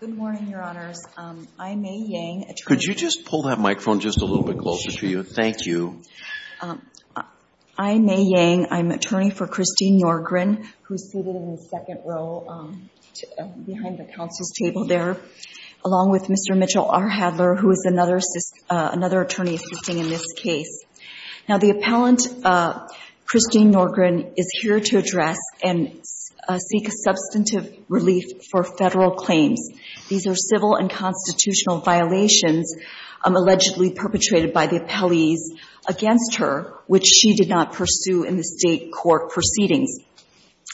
Good morning, Your Honors. I'm May Yang, attorney for Christine Nordgren, who is seated in the second row behind the counsel's table there, along with Mr. Mitchell R. Hadler, who is another attorney assisting in this case. Now, the appellant, Christine Nordgren, is here to address and seek assistance from you. She is seeking substantive relief for federal claims. These are civil and constitutional violations allegedly perpetrated by the appellees against her, which she did not pursue in the State court proceedings.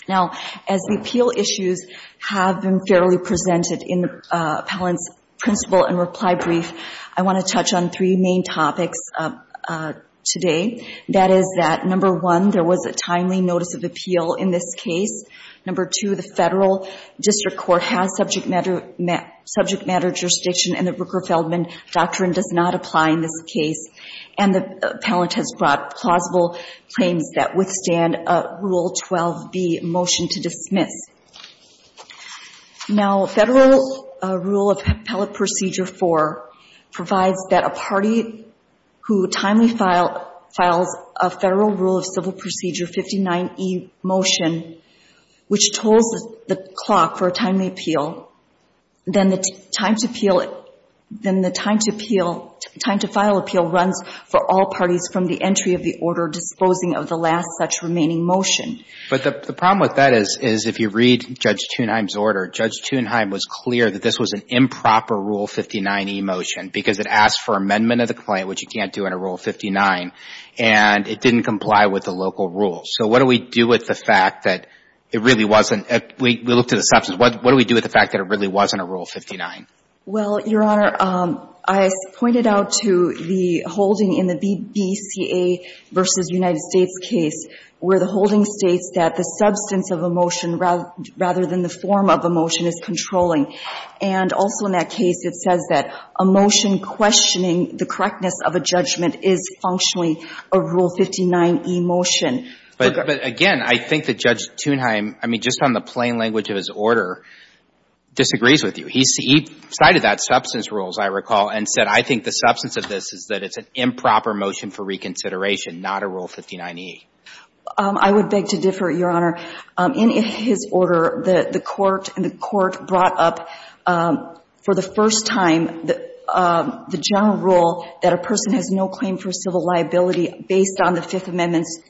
Now, as the appeal issues have been fairly presented in the appellant's principle and reply brief, I want to touch on three main topics today. That is that, number one, there was a timely notice of appeal in this case. Number two, the federal government did not receive any legal assistance in this case, and that is a big issue in this case. The federal district court has subject matter jurisdiction, and the Rooker-Feldman doctrine does not apply in this case. And the appellant has brought plausible claims that withstand a Rule 12b motion to dismiss. Now, Federal Rule of Appellate Procedure 4 provides that a party who timely files a Federal Rule of Civil Procedure 59e motion which tolls the clock for a timely appeal, then the time to appeal, then the time to appeal, time to file appeal runs for all parties from the entry of the order disposing of the last such remaining motion. But the problem with that is, is if you read Judge Thunheim's order, Judge Thunheim was clear that this was an improper Rule 59e motion because it asked for amendment of the claim, which you can't do in a Rule 59, and it didn't comply with the local rules. So what do we do with the fact that it really wasn't? We looked at the substance. What do we do with the fact that it really wasn't a Rule 59? Well, Your Honor, I pointed out to the holding in the BCA v. United States case where the holding states that the substance of a motion rather than the form of a motion is controlling. And also in that case, it says that a motion questioning the correctness of a judgment is functionally a Rule 59e motion. But again, I think that Judge Thunheim, I mean, just on the plain language of his side of that, substance rules, I recall, and said, I think the substance of this is that it's an improper motion for reconsideration, not a Rule 59e. I would beg to differ, Your Honor. In his order, the Court brought up for the first time the general rule that a person has no claim for civil liability based on the Fifth Amendment's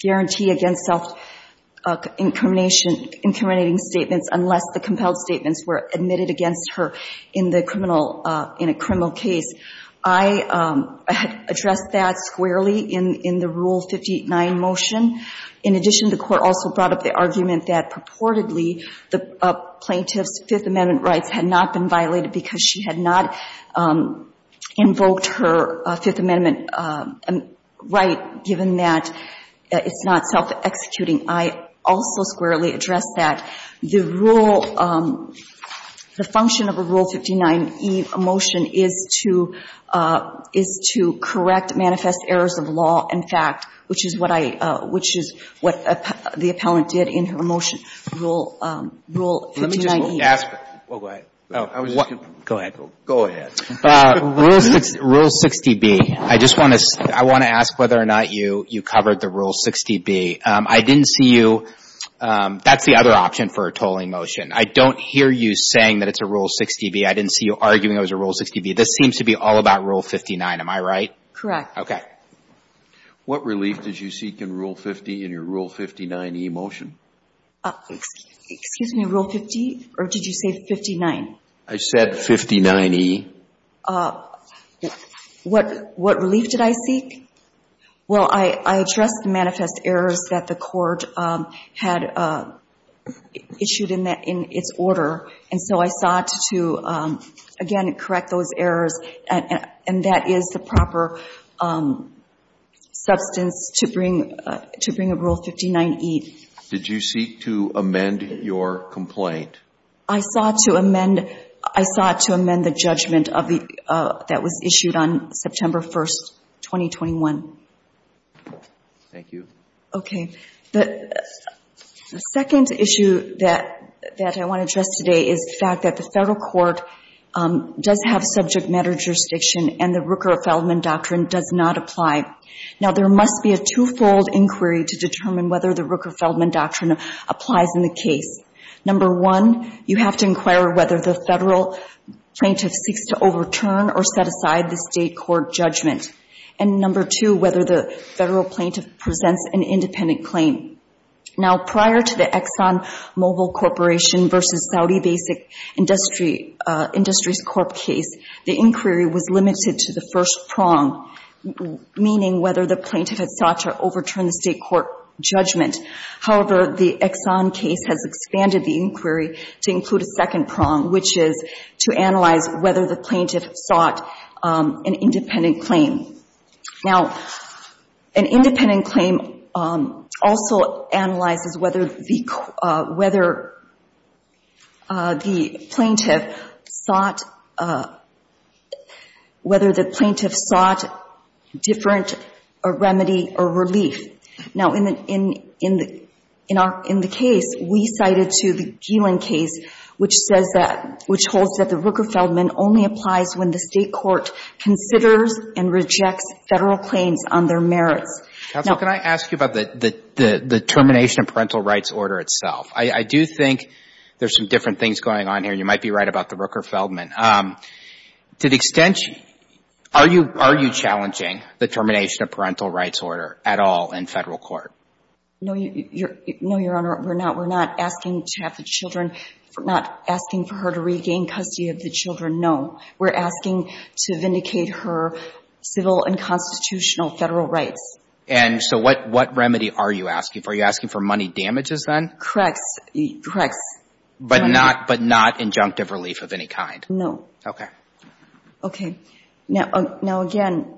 guarantee against self-incriminating statements unless the compelled statements were admitted against her in the criminal, in a criminal case. I addressed that squarely in the Rule 59 motion. In addition, the Court also brought up the argument that purportedly the plaintiff's Fifth Amendment rights had not been violated because she had not invoked her Fifth Amendment right, given that it's not self-executing. I also squarely addressed that. The rule, the function of a Rule 59e motion is to, is to correct manifest errors of law and fact, which is what I, which is what the appellant did in her motion, Rule 59e. Go ahead. Go ahead. Go ahead. Rule 60B, I just want to, I want to ask whether or not you covered the Rule 60B. I didn't see you. That's the other option for a tolling motion. I don't hear you saying that it's a Rule 60B. I didn't see you arguing it was a Rule 60B. This seems to be all about Rule 59. Am I right? Correct. Okay. What relief did you seek in Rule 50, in your Rule 59e motion? Excuse me, Rule 50, or did you say 59? I said 59e. What, what relief did I seek? Well, I addressed the manifest errors that the court had issued in that, in its order, and so I sought to, again, correct those errors, and that is the proper substance to bring, to bring a Rule 59e. Did you seek to amend your complaint? I sought to amend, I sought to amend the judgment of the, that was issued on September 1st, 2021. Thank you. Okay. The second issue that, that I want to address today is the fact that the federal court does have subject matter jurisdiction and the Rooker-Feldman doctrine does not apply. Now, there must be a twofold inquiry to determine whether the Rooker-Feldman doctrine applies in the case. Number one, you have to inquire whether the federal plaintiff seeks to overturn or set aside the state court judgment. And number two, whether the federal plaintiff presents an independent claim. Now, prior to the Exxon Mobil Corporation v. Saudi Basic Industries Corp. case, the inquiry was limited to the first prong, meaning whether the plaintiff had sought to overturn the state court judgment. However, the Exxon case has expanded the inquiry to include a second prong, which is to analyze whether the plaintiff sought an independent claim. Now, an independent claim also analyzes whether the, whether the plaintiff sought, whether the plaintiff sought different remedy or relief. Now, in the case, we cited to the Geelan case, which says that, which holds that the Rooker-Feldman only applies when the state court considers and rejects federal claims on their merits. Now, can I ask you about the termination of parental rights order itself? I do think there's some different things going on here. You might be right about the Rooker-Feldman. To the extent, are you, are you challenging the termination of parental rights order at all in federal court? No, Your Honor, we're not. We're not asking to have the children, we're not asking for her to regain custody of the children, no. We're asking to vindicate her civil and constitutional federal rights. And so what, what remedy are you asking for? Are you asking for money damages, then? Correct. Correct. But not, but not injunctive relief of any kind? No. Okay. Okay. Now, now, again,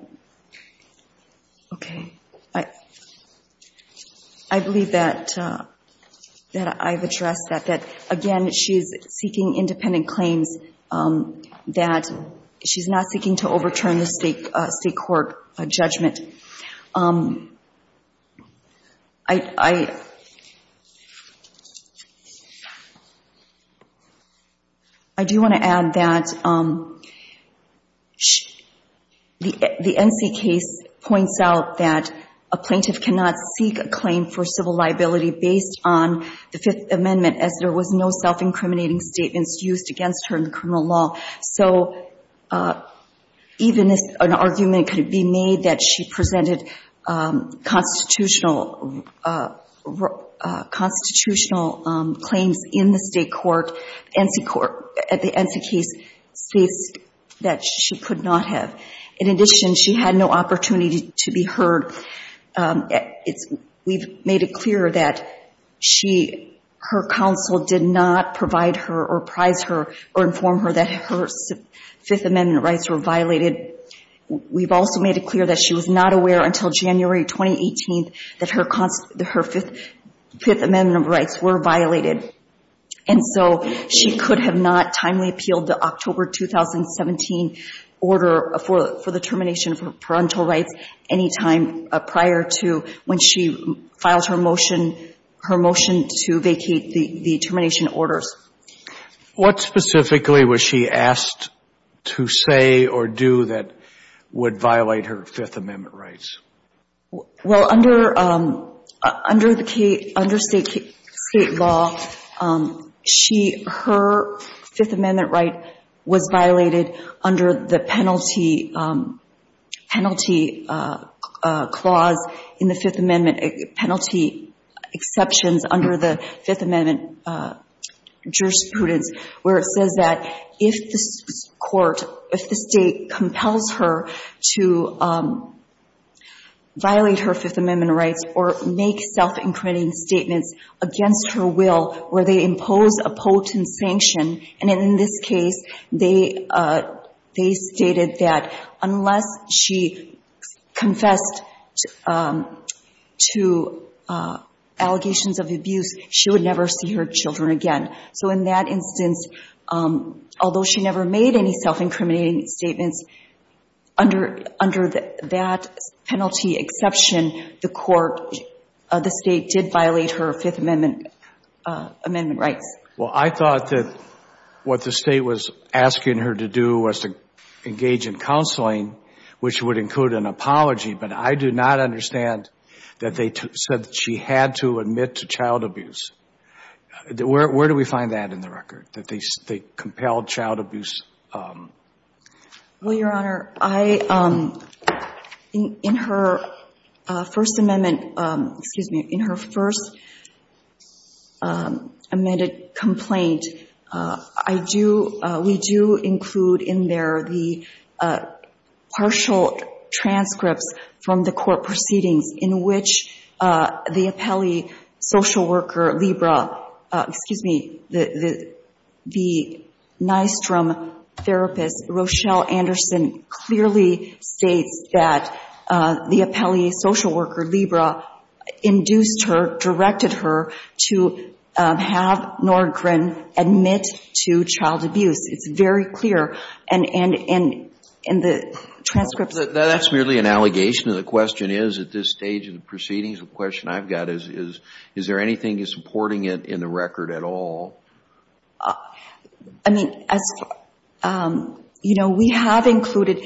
okay, I, I believe that, that I've addressed that, that again, she's seeking independent claims, that she's not seeking to overturn the court judgment. I, I, I do want to add that the NC case points out that a plaintiff cannot seek a claim for civil liability based on the Fifth Amendment, as there was no self-incriminating statements used against her in criminal law. So even if an argument could be made that she presented constitutional, constitutional claims in the state court, NC court, at the NC case states that she could not have. In addition, she had no opportunity to be heard. It's, we've made it clear that she, her counsel did not provide her or prize her or inform her that her Fifth Amendment rights were violated. We've also made it clear that she was not aware until January 2018 that her cons, her Fifth, Fifth Amendment rights were violated. And so she could have not timely appealed the October 2017 order for, for the termination of her parental rights any time prior to when she filed her motion, her motion to vacate the, the termination orders. What specifically was she asked to say or do that would violate her Fifth Amendment rights? Well, under, under the, under state, state law, she, her Fifth Amendment right was violated under the penalty, penalty clause in the Fifth Amendment, penalty exceptions under the Fifth Amendment jurisprudence, where it says that if the court, if the state compels her to violate her Fifth Amendment rights or make self-imprinting statements against her will, where they impose a potent sanction, and in this case, they, they stated that unless she confessed to allegations of abuse, she would never see her children again. So in that instance, although she never made any self-incriminating statements, under, under that penalty exception, the court, the state did violate her Fifth Amendment, Amendment rights. Well, I thought that what the state was asking her to do was to engage in counseling, which would include an apology, but I do not understand that they said she had to admit to child abuse. Where, where do we find that in the record, that they, they compelled child abuse? Well, Your Honor, I, in, in her First Amendment, excuse me, in her first amended complaint, I do, we do include in there the partial transcripts from the court proceedings in which the appellee social worker, Libra, excuse me, the, the, the Nystrom therapist, Rochelle Anderson, clearly states that the appellee social worker, Libra, induced her, directed her to have Nordgren admit to child abuse. It's very clear. And, and, and, and the transcripts. That's merely an allegation. The question is, at this stage of the proceedings, the question I've got is, is, is there anything supporting it in the record at all? I mean, as, you know, we have included,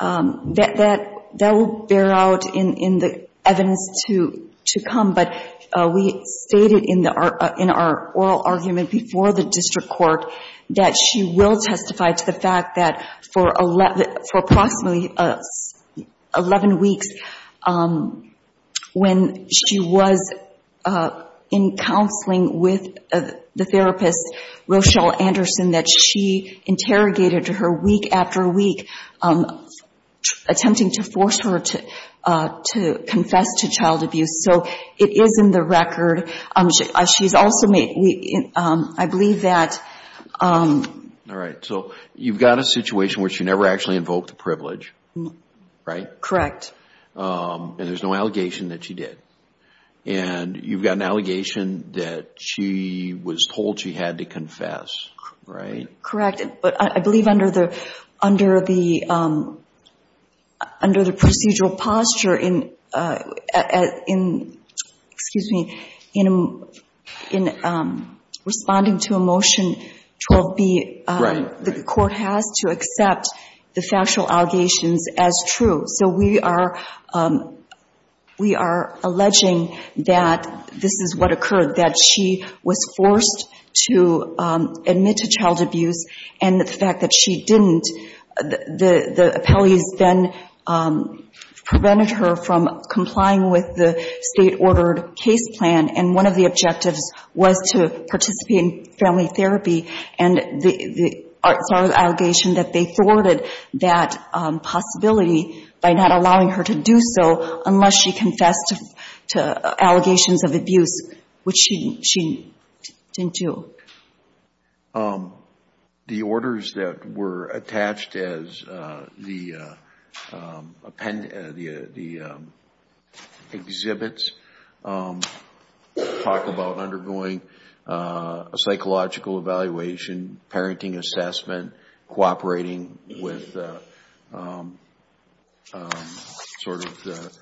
that, that, that will bear out in, in the evidence to, to come, but we stated in the, in our oral argument before the district court that she will testify to the fact that for 11, for approximately 11 weeks when she was in counseling with the therapist, Rochelle Anderson, that she interrogated her week after week, attempting to force her to, to confess to child abuse. So it is in the record. She's also made, we, I believe that. All right. So you've got a situation where she never actually invoked the privilege, right? Correct. And there's no allegation that she did. And you've got an allegation that she was told she had to confess, right? Correct. But I believe under the, under the, under the procedural posture in, in, excuse me, in, in responding to a motion 12B, the court has to accept the factual allegations as true. So we are, we are alleging that this is what occurred, that she was forced to admit to child abuse. And the fact that she didn't, the, the court was complying with the state-ordered case plan. And one of the objectives was to participate in family therapy. And the, the, it's our allegation that they thwarted that possibility by not allowing her to do so unless she confessed to allegations of abuse, which she, she didn't do. The, the orders that were attached as the append, the, the exhibits talk about undergoing a psychological evaluation, parenting assessment, cooperating with sort of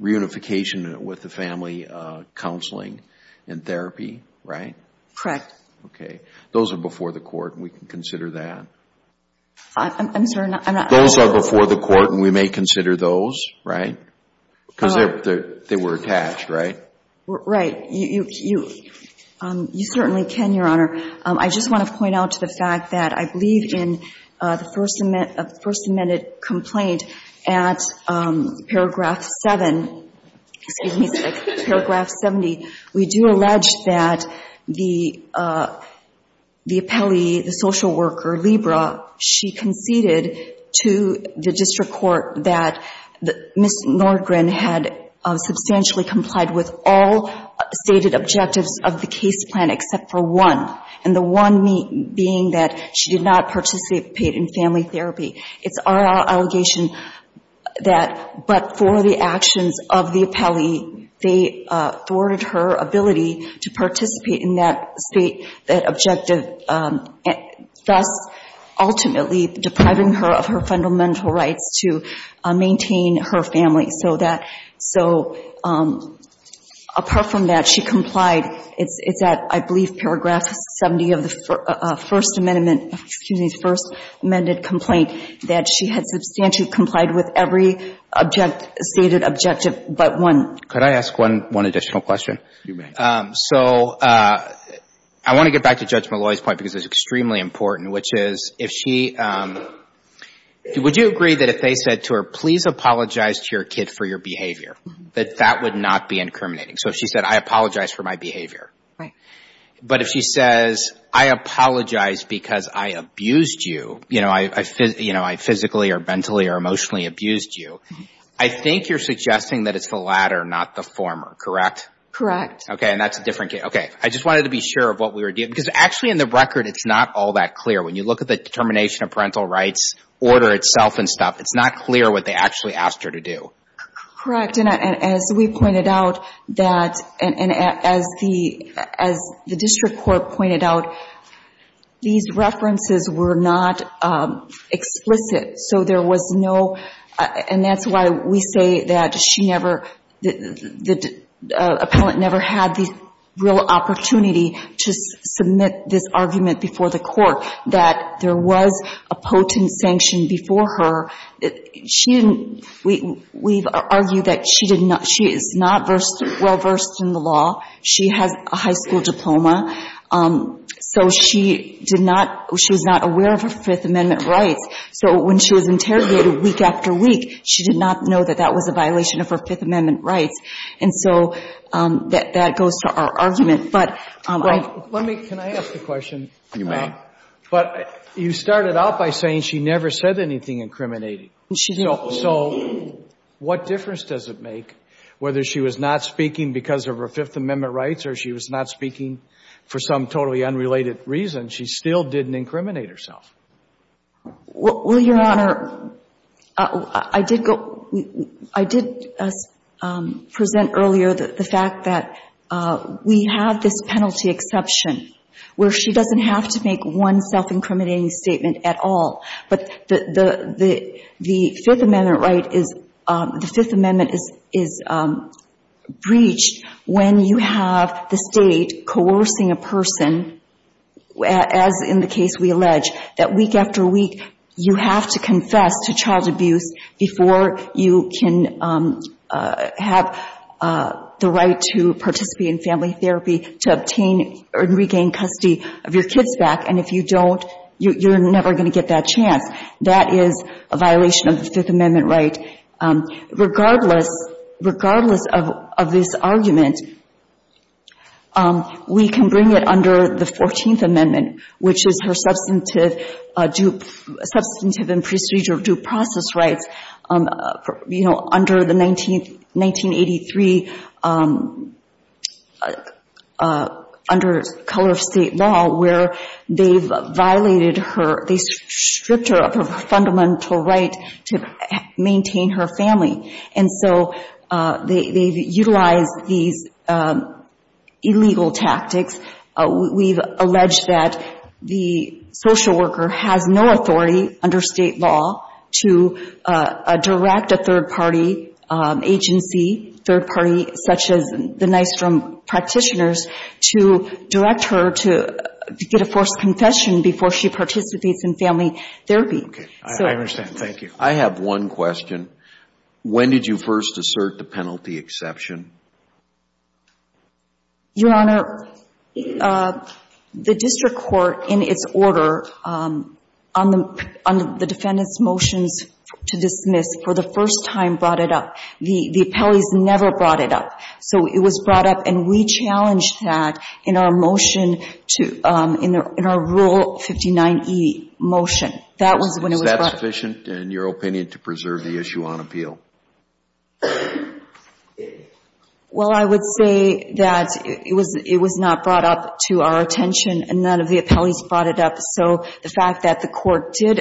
reunification with the family counseling and therapy, right? Correct. Okay. Those are before the court and we can consider that? I'm, I'm sorry, I'm not. Those are before the court and we may consider those, right? Because they're, they're, they were attached, right? Right. You, you, you, you certainly can, Your Honor. I just want to point out to the fact that I believe in the First Amendment, First Amendment complaint at paragraph seven, excuse me, paragraph 70, we do allege that the, the appellee, the social worker, Libra, she conceded to the district court that Ms. Nordgren had substantially complied with all stated objectives of the case plan except for one. And the one being that she did not participate in family therapy. It's our allegation that but for the actions of the appellee, they thwarted her ability to participate in that state, that objective, thus ultimately depriving her of her fundamental rights to maintain her family. So that, so apart from that, she complied. It's, it's at, I believe, paragraph 70 of the First Amendment, excuse me, the First Amendment complaint that she had substantially complied with every object, stated objective but one. Could I ask one, one additional question? You may. So I want to get back to Judge Malloy's point because it's extremely important, which is, if she, would you agree that if they said to her, please apologize to your kid for your behavior, that that would not be incriminating? So if she said, I apologize for my behavior. But if she says, I apologize because I abused you, you know, I physically or mentally or emotionally abused you, I think you're suggesting that it's the latter, not the former, correct? Correct. Okay. And that's a different case. Okay. I just wanted to be sure of what we were doing. Because actually in the record, it's not all that clear. When you look at the determination of parental rights order itself and stuff, it's not clear what they actually asked her to do. Correct. And as we pointed out that, and as the, as the district court pointed out, these references were not explicit. So there was no, and that's why we say that she never, the appellant never had the real opportunity to submit this argument before the court, that there was a potent sanction before her. She didn't, we've argued that she did not, she is not well-versed in the law. She has a high school diploma. So she did not, she was not aware of her Fifth Amendment rights. So when she was interrogated week after week, she did not know that that was a violation of her Fifth Amendment rights. And so that goes to our argument. But I'm Let me, can I ask a question? You may. But you started out by saying she never said anything incriminating. So what difference does it make whether she was not speaking because of her Fifth Amendment rights or she was not speaking for some totally unrelated reason, she still didn't incriminate herself? Well, Your Honor, I did go, I did present earlier the fact that we have this penalty exception where she doesn't have to make one self-incriminating statement at all, but the Fifth Amendment right is, the Fifth Amendment is breached when you have the state coercing a person, as in the case we allege, that week after week, you have to confess to child abuse before you can have the right to participate in family therapy to obtain or regain custody of your kids back. And if you don't, you're never going to get that chance. That is a violation of the Fifth Amendment right. Regardless, regardless of this argument, we can bring it under the 14th Amendment, which is her substantive and procedure due process rights, you know, under the 1983, under color of state law where they've violated her, they stripped her of her fundamental right to maintain her family. And so they've utilized these illegal tactics. We've alleged that the social worker has no authority under state law to direct a third-party agency, third party, such as the Nystrom practitioners, to direct her to get a forced confession before she participates in family therapy. Okay. I understand. Thank you. I have one question. When did you first assert the penalty exception? Your Honor, the district court, in its order, on the defendant's motions to dismiss, for the first time brought it up. The appellees never brought it up. So it was brought up and we challenged that in our motion to, in our Rule 59e motion. That was when it was brought up. Is that sufficient, in your opinion, to preserve the issue on appeal? Well, I would say that it was not brought up to our attention and none of the appellees brought it up. So the fact that the court did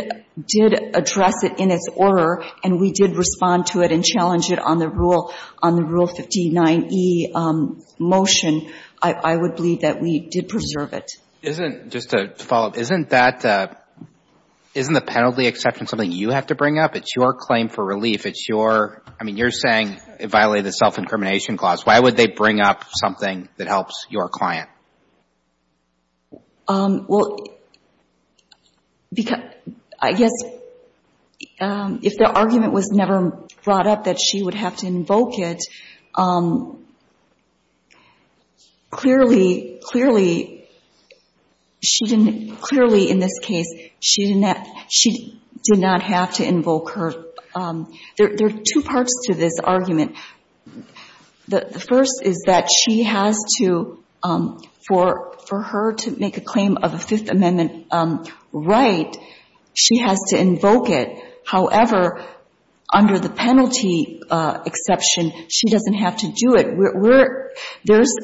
address it in its order and we did respond to it and challenge it on the rule, on the Rule 59e motion, I would believe that we did preserve it. Isn't, just to follow up, isn't that, isn't the penalty exception something you have to bring up? It's your claim for relief. It's your, I mean, you're saying it violated the self-incrimination clause. Why would they bring up something that helps your client? Well, because, I guess, if the argument was never brought up that she would have to invoke it, clearly, clearly, she didn't, clearly in this case, she didn't, she did not have to invoke her. There are two parts to this argument. The first is that she has to, in order for her to make a claim of a Fifth Amendment right, she has to invoke it. However, under the penalty exception, she doesn't have to do it. We're, there's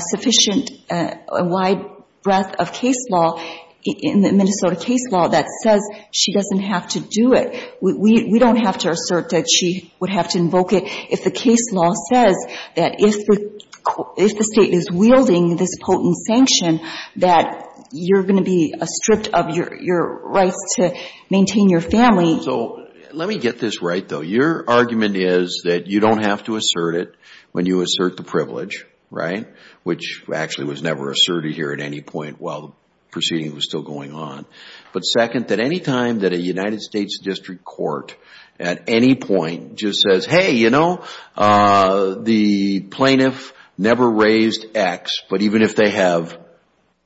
sufficient, a wide breadth of case law in the Minnesota case law that says she doesn't have to do it. We don't have to assert that she would have to invoke it if the case law says that if the state is wielding this potent sanction that you're going to be stripped of your rights to maintain your family. So, let me get this right, though. Your argument is that you don't have to assert it when you assert the privilege, right, which actually was never asserted here at any point while the proceeding was still going on. But second, that any time that a United States District Court at any point just says, hey, you know, the plaintiff never raised X, but even if they have,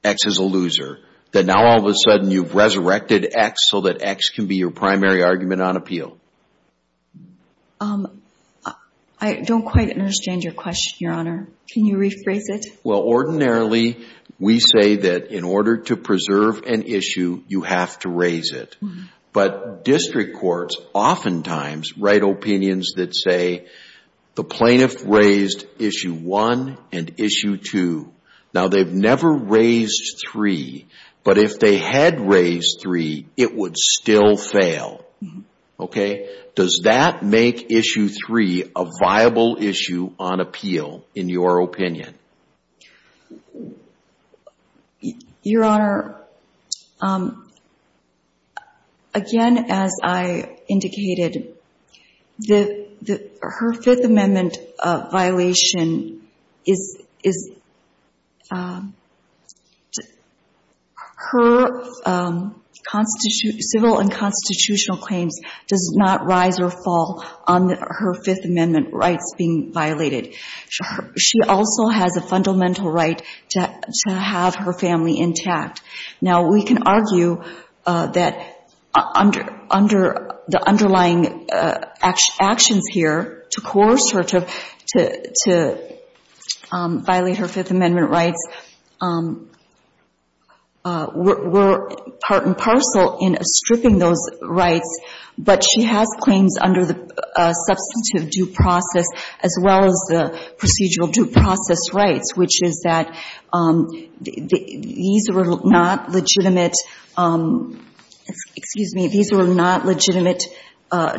X is a loser, that now all of a sudden you've resurrected X so that X can be your primary argument on appeal. I don't quite understand your question, Your Honor. Can you rephrase it? Well, ordinarily, we say that in order to preserve an issue, you have to raise it. But district courts oftentimes write opinions that say the plaintiff raised Issue 1 and Issue 2. Now, they've never raised 3, but if they had raised 3, it would still fail. Okay? Does that make Issue 3 a viable issue on appeal, in your opinion? Your Honor, again, as I indicated, the – her Fifth Amendment violation is – her civil and constitutional claims does not rise or fall on her Fifth Amendment rights being violated. She also has a fundamental right to have her family intact. Now, we can argue that under – under the underlying actions here to coerce her to violate her Fifth Amendment rights, we're part and parcel in stripping those rights. But she has claims under the substantive due process as well as the procedural due process rights, which is that these are not legitimate – excuse me – these are not legitimate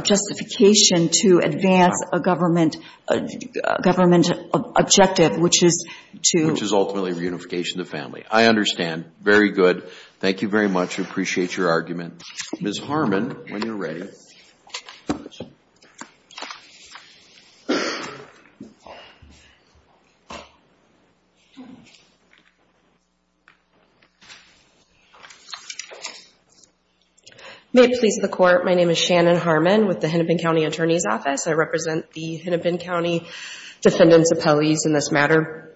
justification to advance a government – a government objective, which is to – Which is ultimately reunification of the family. I understand. Very good. Thank you very much. I appreciate your argument. Ms. Harmon, when you're ready. May it please the Court, my name is Shannon Harmon with the Hennepin County Attorney's Office. I represent the Hennepin County defendants' appellees in this matter.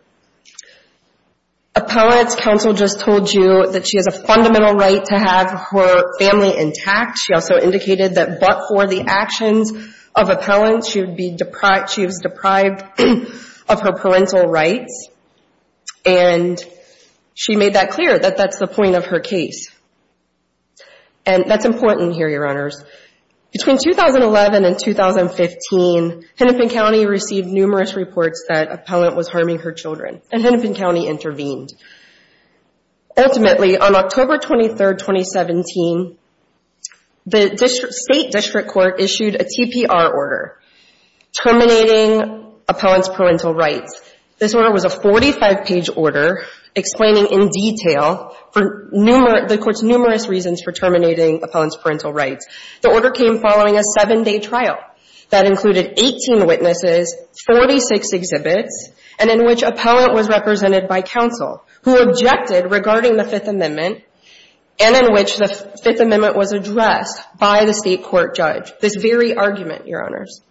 Appellate's counsel just told you that she has a fundamental right to have her family intact. She also indicated that but for the actions of appellants, she would be – she was deprived of her parental rights. And she made that clear, that that's the point of her case. And that's important here, Your Honors. Between 2011 and 2015, Hennepin County received numerous reports that appellant was harming her children, and Hennepin County intervened. Ultimately, on October 23, 2017, the State District Court issued a TPR order terminating appellant's parental rights. This order was a 45-page order explaining in detail the Court's numerous reasons for terminating appellant's parental rights. The order came following a 7-day hearing conducted by counsel, who objected regarding the Fifth Amendment, and in which the Fifth Amendment was addressed by the State Court judge. This very argument, Your Honors.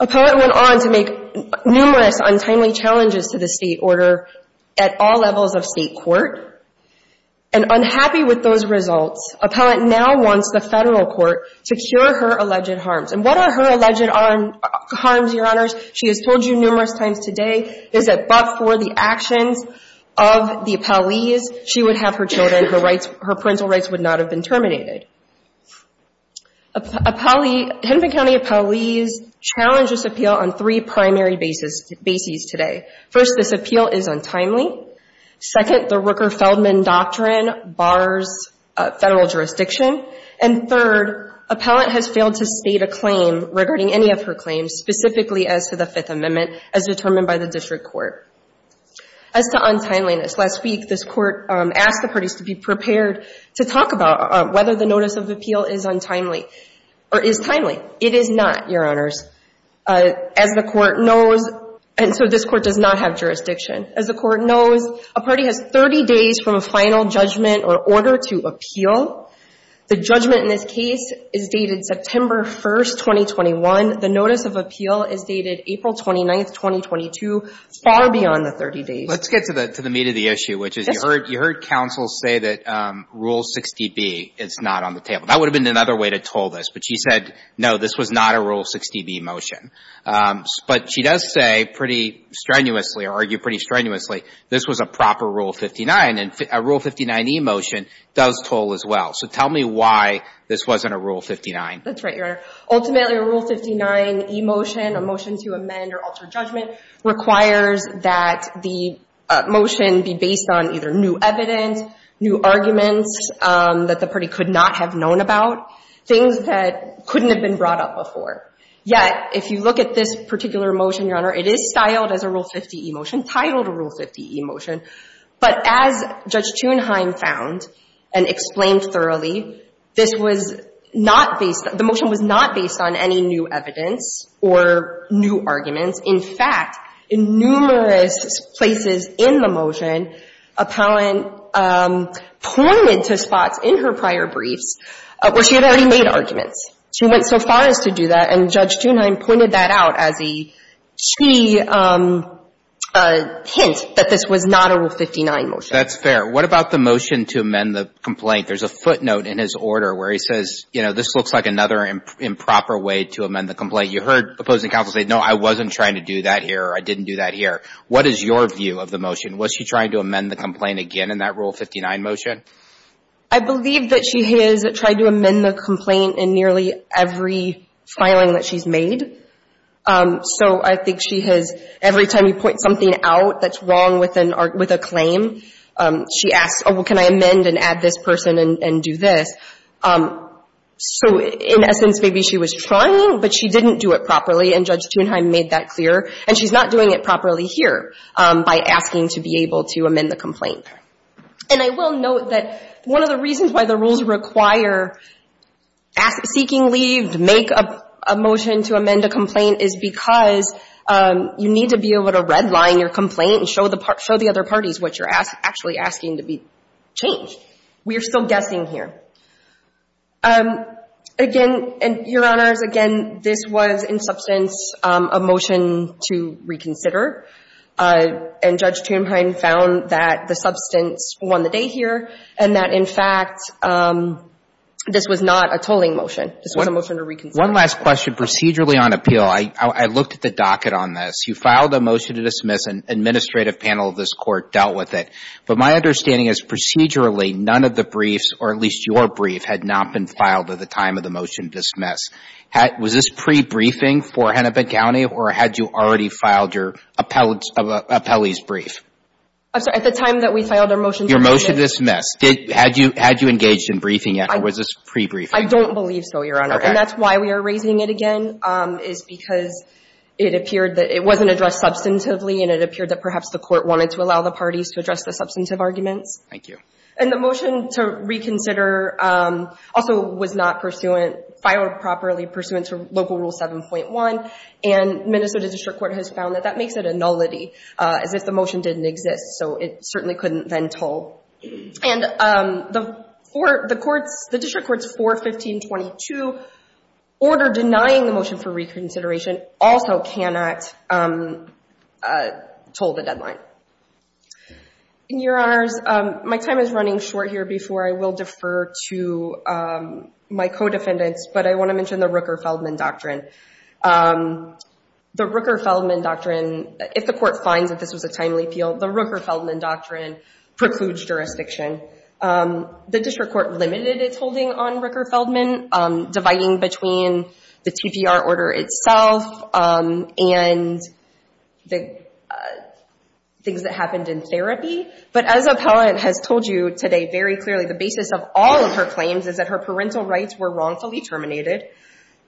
Appellant went on to make numerous untimely challenges to the State order at all levels of State court. And unhappy with those results, appellant now wants the Federal Court to cure her alleged harms. And what are her alleged harms, Your Honors? She has told you numerous times today, is that but for the actions of the appellees, she would have her children, her rights, her parental rights would not have been terminated. Hennepin County appellees challenge this appeal on three primary bases today. First, this appeal is untimely. Second, the Rooker-Feldman doctrine bars Federal jurisdiction. And third, appellant has failed to state a judgment specifically as to the Fifth Amendment as determined by the District Court. As to untimeliness, last week this Court asked the parties to be prepared to talk about whether the notice of appeal is untimely or is timely. It is not, Your Honors. As the Court knows, and so this Court does not have jurisdiction. As the Court knows, a party has 30 days from a final judgment or order to appeal. The judgment in this case is dated September 1st, 2021. The notice of appeal is dated April 29th, 2022. It's far beyond the 30 days. Let's get to the meat of the issue, which is you heard counsel say that Rule 60B is not on the table. That would have been another way to toll this. But she said, no, this was not a Rule 60B motion. But she does say pretty strenuously, or argue pretty strenuously, this was a proper Rule 59. And a Rule 59e motion does toll as well. So tell me why this wasn't a Rule 59. That's right, Your Honor. Ultimately, a Rule 59e motion, a motion to amend or alter judgment, requires that the motion be based on either new evidence, new arguments that the party could not have known about, things that couldn't have been brought up before. Yet, if you look at this particular motion, Your Honor, it is styled as a Rule 50e motion, titled a Rule 50e motion. But as Judge Thunheim found and explained thoroughly, this was not based, the motion was not based on any new evidence or new arguments. In fact, in numerous places in the motion, Appellant pointed to spots in her prior briefs where she had already made arguments. She went so far as to do that, and Judge Thunheim pointed that out as a key hint that this was not a Rule 59 motion. That's fair. What about the motion to amend the complaint? There's a footnote in his order where he says, you know, this looks like another improper way to amend the complaint. You heard opposing counsel say, no, I wasn't trying to do that here or I didn't do that here. What is your view of the motion? Was she trying to amend the complaint again in that Rule 59 motion? I believe that she has tried to amend the complaint in nearly every filing that she's made. So I think she has, every time you point something out that's wrong with a claim, she asks, oh, well, can I amend and add this person and do this? So in essence, maybe she was trying, but she didn't do it properly, and Judge Thunheim made that clear. And she's not doing it properly here by asking to be able to amend the complaint. And I will note that one of the reasons why the rules require seeking leave to make a motion to amend a complaint is because you need to be able to redline your complaint and show the other parties what you're actually asking to be changed. We are still guessing here. Again, and, Your Honors, again, this was in substance a motion to reconsider, and Judge Thunheim found that the substance of the motion in substance won the day here, and that, in fact, this was not a tolling motion. This was a motion to reconsider. One last question. Procedurally on appeal, I looked at the docket on this. You filed a motion to dismiss. An administrative panel of this Court dealt with it. But my understanding is procedurally, none of the briefs, or at least your brief, had not been filed at the time of the motion to dismiss. Was this pre-briefing for Hennepin County, or had you already filed your appellee's brief? I'm sorry. At the time that we filed our motion to dismiss. Your motion to dismiss. Had you engaged in briefing yet, or was this pre-briefing? I don't believe so, Your Honor. Okay. And that's why we are raising it again, is because it appeared that it wasn't addressed substantively, and it appeared that perhaps the Court wanted to allow the parties to address the substantive arguments. Thank you. And the motion to reconsider also was not pursuant, filed properly pursuant to Local Rule 7.1, and Minnesota District Court has found that that makes it a nullity, as if the motion didn't exist. So it certainly couldn't then toll. And the District Court's 415.22 order denying the motion for reconsideration also cannot toll the deadline. Your Honors, my time is running short here before I will defer to my co-defendants, but I want to mention the Rooker-Feldman Doctrine. The Rooker-Feldman Doctrine, if the Court finds that this was a timely appeal, the Rooker-Feldman Doctrine precludes jurisdiction. The District Court limited its holding on Rooker-Feldman, dividing between the TPR order itself and the things that happened in therapy. But as a appellant has told you today very clearly, the basis of all of her claims is that her parental rights were wrongfully terminated.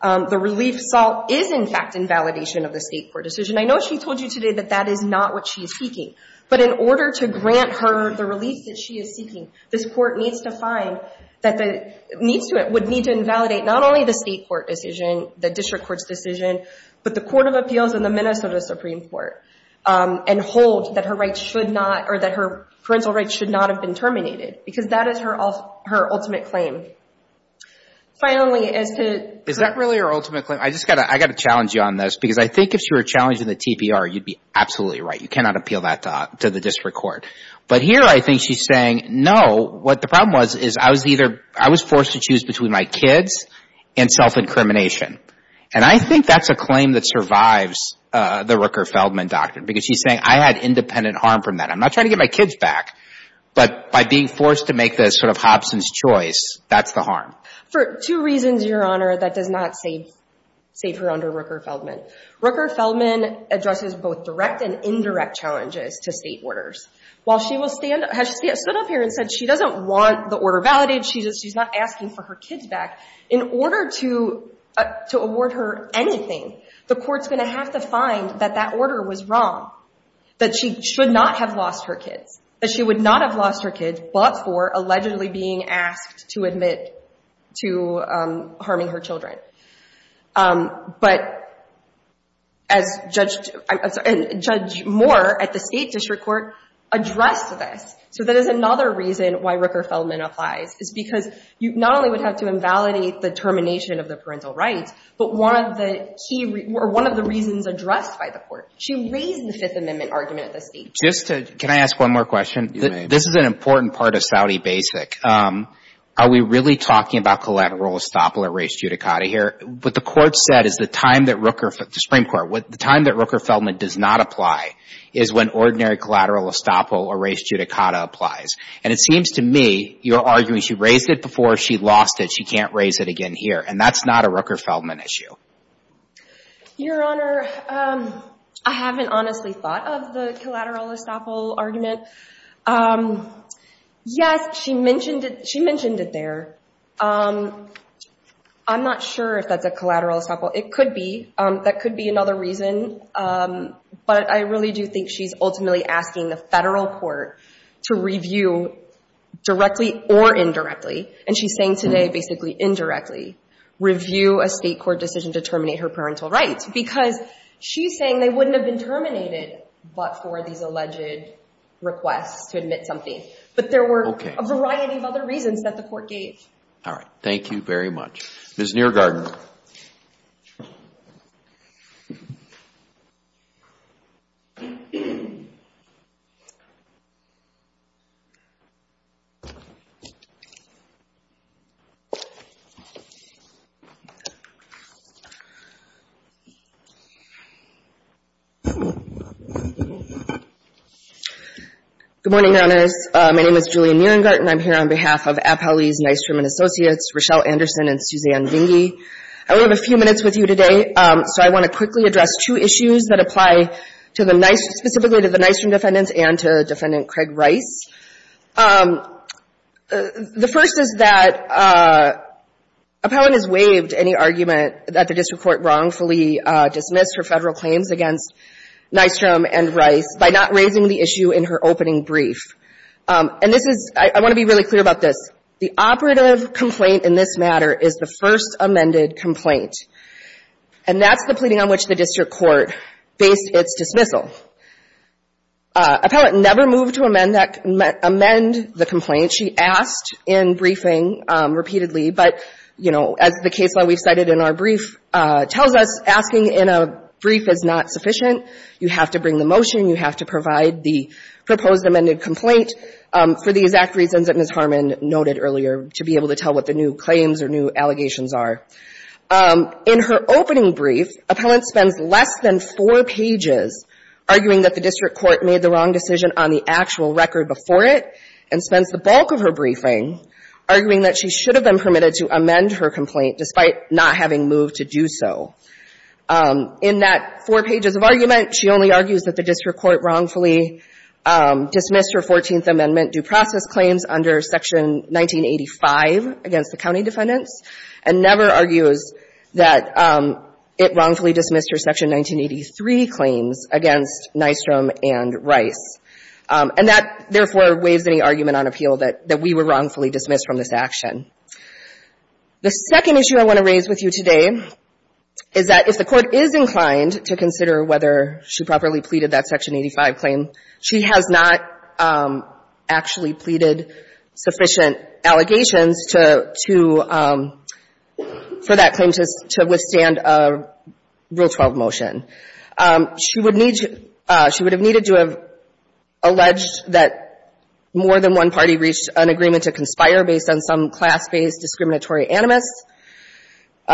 The relief sought is, in fact, invalidation of the State Court decision. I know she told you today that that is not what she is seeking, but in order to grant her the relief that she is seeking, this Court needs to find that it would need to invalidate not only the State Court decision, the District Court's decision, but the Court of Appeals and the Minnesota Supreme Court, and hold that her parental rights should not have been terminated, because that is her ultimate claim. Finally, as to... Is that really her ultimate claim? I've just got to challenge you on this, because I think if she were challenging the TPR, you'd be absolutely right. You cannot appeal that to the District Court. But here I think she's saying, no, what the problem was is I was either, I was forced to choose between my kids and self-incrimination. And I think that's a claim that survives the Rooker-Feldman Doctrine, because she's saying, I had independent harm from that. I'm not trying to get my kids back. But by being forced to make this sort of Hobson's choice, that's the harm. For two reasons, Your Honor, that does not save her under Rooker-Feldman. Rooker-Feldman addresses both direct and indirect challenges to State orders. While she will stand, has stood up here and said she doesn't want the order validated, she's not asking for her kids back, in order to award her anything, the Court's going to have to find that that order was wrong, that she should not have lost her kids, that she would not have lost her kids but for allegedly being asked to admit to harming her children. But as Judge Moore at the State District Court addressed this, so that is another reason why Rooker-Feldman applies, is because you not only would have to invalidate the termination of the parental rights, but one of the key, or one of the reasons addressed by the Court, she raised the Fifth Amendment argument at the State District. Just to, can I ask one more question? You may. This is an important part of Saudi basic. Are we really talking about collateral estoppel or res judicata here? What the Court said is the time that Rooker, the Supreme Court, the time that Rooker-Feldman does not apply is when ordinary collateral estoppel or res judicata applies. And it seems to me you're arguing she raised it before she lost it, she can't raise it again here. And that's not a Rooker-Feldman issue. Your Honor, I haven't honestly thought of the collateral estoppel argument. Yes, she mentioned it there. I'm not sure if that's a collateral estoppel. It could be. That could be another reason. But I really do think she's ultimately asking the Federal Court to review directly or indirectly. And she's saying today basically indirectly, review a State court decision to terminate her parental rights. Because she's saying they wouldn't have been terminated but for these alleged requests to admit something. But there were a variety of other reasons that the Court gave. All right. Thank you very much. Ms. Nierengarten. Good morning, Your Honor. My name is Julian Nierengarten. I'm here on behalf of Appellee's, Nystrom & Associates, Rochelle Anderson and Suzanne Vinge. I only have a few minutes with you today, so I want to quickly address two issues that apply specifically to the Nystrom defendants and to Defendant Craig Rice. The first is that Appellant has waived any argument that the District Court wrongfully dismissed her Federal claims against Nystrom and Rice by not raising the issue in her opening brief. And this is ‑‑ I want to be really clear about this. The operative complaint in this matter is the first amended complaint. And that's the pleading on which the District Court based its dismissal. Appellant never moved to amend the complaint. She asked in briefing repeatedly, but, you know, as the case law we've cited in our brief tells us, asking in a brief is not sufficient. You have to bring the motion. You have to provide the proposed amended complaint for the exact reasons that Ms. Harmon noted earlier to be able to tell what the new claims or new allegations are. In her opening brief, Appellant spends less than four pages arguing that the District Court made the wrong decision on the actual record before it, and spends the bulk of her briefing arguing that she should have been permitted to amend her complaint despite not having moved to do so. In that four pages of argument, she only argues that the District Court wrongfully dismissed her Fourteenth Amendment due process claims under Section 1985 against the county defendants, and never argues that it wrongfully dismissed her Section 1983 claims against Nystrom and Rice. And that, therefore, waives any argument on appeal that we were wrongfully dismissed from this action. The second issue I want to raise with you today is that if the Court is inclined to consider whether she properly pleaded that Section 85 claim, she has not actually pleaded sufficient allegations to, for that claim to withstand a Rule 12 motion. She would need to, she would have needed to have alleged that more than one party reached an agreement to conspire based on some class-based discriminatory animus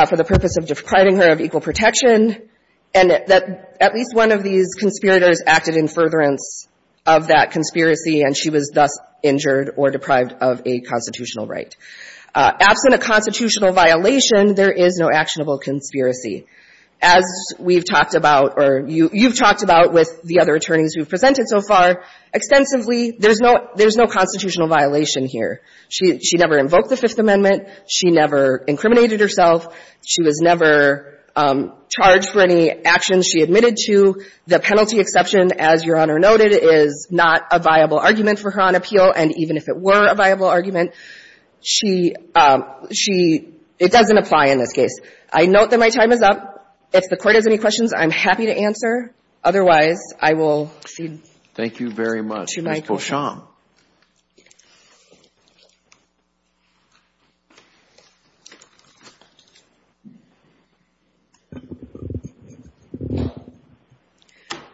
for the purpose of depriving her of equal protection, and that at least one of these conspirators acted in furtherance of that conspiracy, and she was thus injured or deprived of a constitutional right. Absent a constitutional violation, there is no actionable conspiracy. As we've talked about, or you've talked about with the other attorneys who have presented so far, extensively, there's no constitutional violation here. She never invoked the Fifth Amendment. She never incriminated herself. She was never charged for any actions she admitted to. The penalty exception, as Your Honor noted, is not a viable argument for her on appeal. And even if it were a viable argument, she, it doesn't apply in this case. I note that my time is up. If the Court has any questions, I'm happy to answer. Otherwise, I will proceed to my question. Thank you very much. Rachel Beauchamp.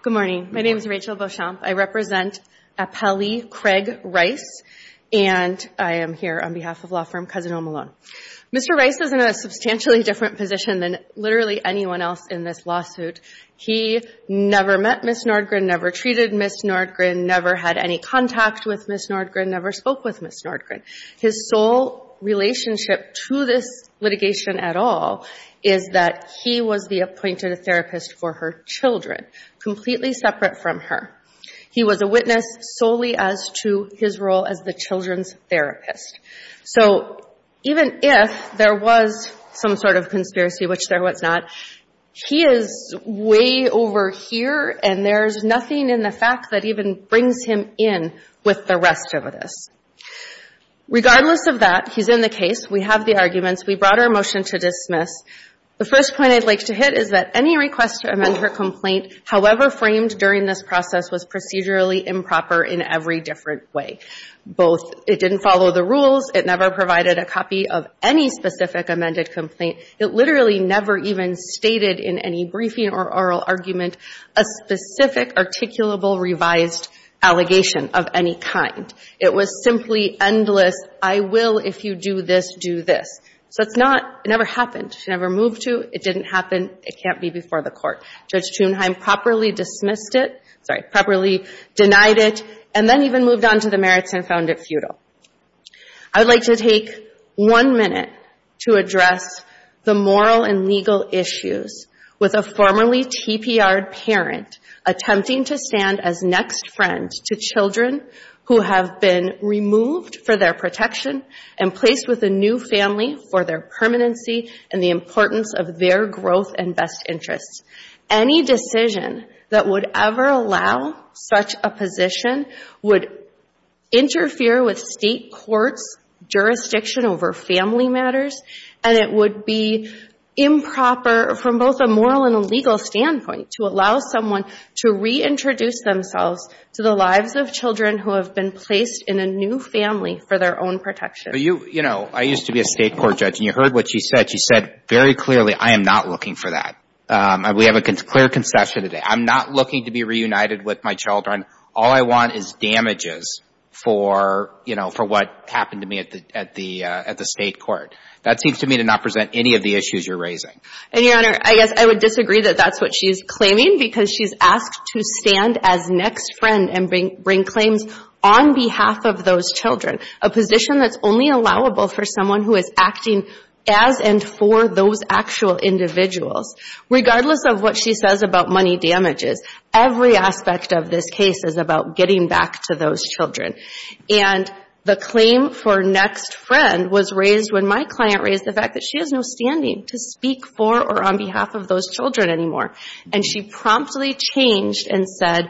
Good morning. My name is Rachel Beauchamp. I represent Appellee Craig Rice, and I am here on behalf of law firm Cousin-O-Malone. Mr. Rice is in a substantially different position than literally anyone else in this lawsuit. He never met Ms. Nordgren, never treated Ms. Nordgren, never had any contact with Ms. Nordgren, never spoke with Ms. Nordgren. His sole relationship to this litigation at all is that he was the appointed therapist for her children, completely separate from her. He was a witness solely as to his role as the children's therapist. So even if there was some sort of conspiracy, which there was not, he is way over here, and there's nothing in the fact that even brings him in with the rest of this. Regardless of that, he's in the case. We have the arguments. We brought our motion to dismiss. The first point I'd like to hit is that any request to amend her complaint, however framed during this process, was procedurally improper in every different way. It didn't follow the rules. It never provided a copy of any specific amended complaint. It literally never even stated in any briefing or oral argument a specific, articulable, revised allegation of any kind. It was simply endless, I will, if you do this, do this. So it never happened. It never moved to. It didn't happen. It can't be before the court. Judge Thunheim properly dismissed it, sorry, properly denied it, and then even moved on to the merits and found it futile. I would like to take one minute to address the moral and legal issues with a formerly TPR'd parent attempting to stand as next friend to children who have been removed for their protection and placed with a new family for their permanency and the importance of their growth and best interests. Any decision that would ever allow such a position would interfere with state courts' jurisdiction over family matters, and it would be improper from both a moral and a legal standpoint to allow someone to reintroduce themselves to the lives of children who have been placed in a new family for their own protection. You know, I used to be a state court judge, and you heard what she said. She said very clearly, I am not looking for that. We have a clear concession today. I'm not looking to be reunited with my children. All I want is damages for, you know, for what happened to me at the state court. That seems to me to not present any of the issues you're raising. And, Your Honor, I guess I would disagree that that's what she's claiming because she's asked to stand as next friend and bring claims on behalf of those children, a position that's only allowable for someone who is acting as and for those actual individuals. Regardless of what she says about money damages, every aspect of this case is about getting back to those children. And the claim for next friend was raised when my client raised the fact that she has no standing to speak for or on behalf of those children anymore. And she promptly changed and said,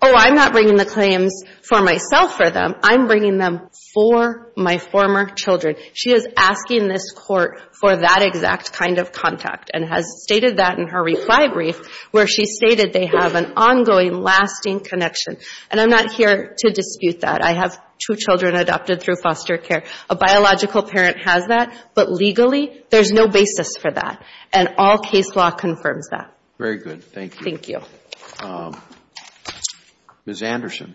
oh, I'm not bringing the claims for myself or them. I'm bringing them for my former children. She is asking this court for that exact kind of contact and has stated that in her reply brief where she stated they have an ongoing, lasting connection. And I'm not here to dispute that. I have two children adopted through foster care. A biological parent has that. But legally, there's no basis for that. Very good. Thank you. Thank you. Ms. Anderson.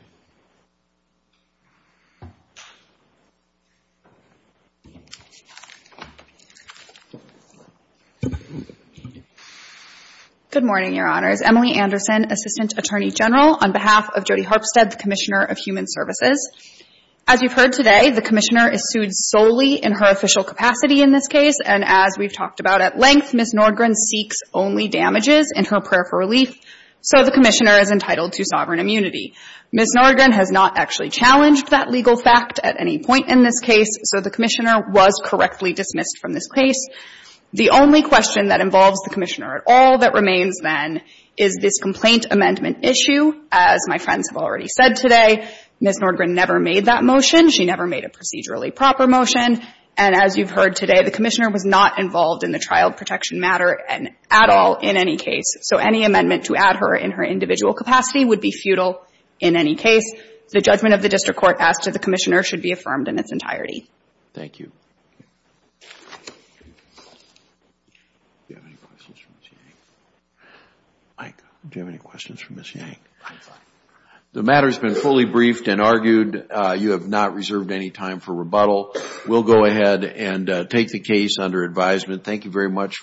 Good morning, Your Honors. Emily Anderson, Assistant Attorney General on behalf of Jody Harpstead, the Commissioner of Human Services. As you've heard today, the Commissioner is sued solely in her official capacity in this case. And as we've talked about at length, Ms. Nordgren seeks only damages in her prayer for relief. So the Commissioner is entitled to sovereign immunity. Ms. Nordgren has not actually challenged that legal fact at any point in this case. So the Commissioner was correctly dismissed from this case. The only question that involves the Commissioner at all that remains, then, is this complaint amendment issue. As my friends have already said today, Ms. Nordgren never made that motion. She never made a procedurally proper motion. And as you've heard today, the Commissioner was not involved in the child protection matter at all in any case. So any amendment to add her in her individual capacity would be futile in any case. The judgment of the District Court as to the Commissioner should be affirmed in its entirety. Thank you. Mike, do you have any questions for Ms. Yang? I'm fine. The matter has been fully briefed and argued. You have not reserved any time for rebuttal. We'll go ahead and take the case under advisement. Thank you very much.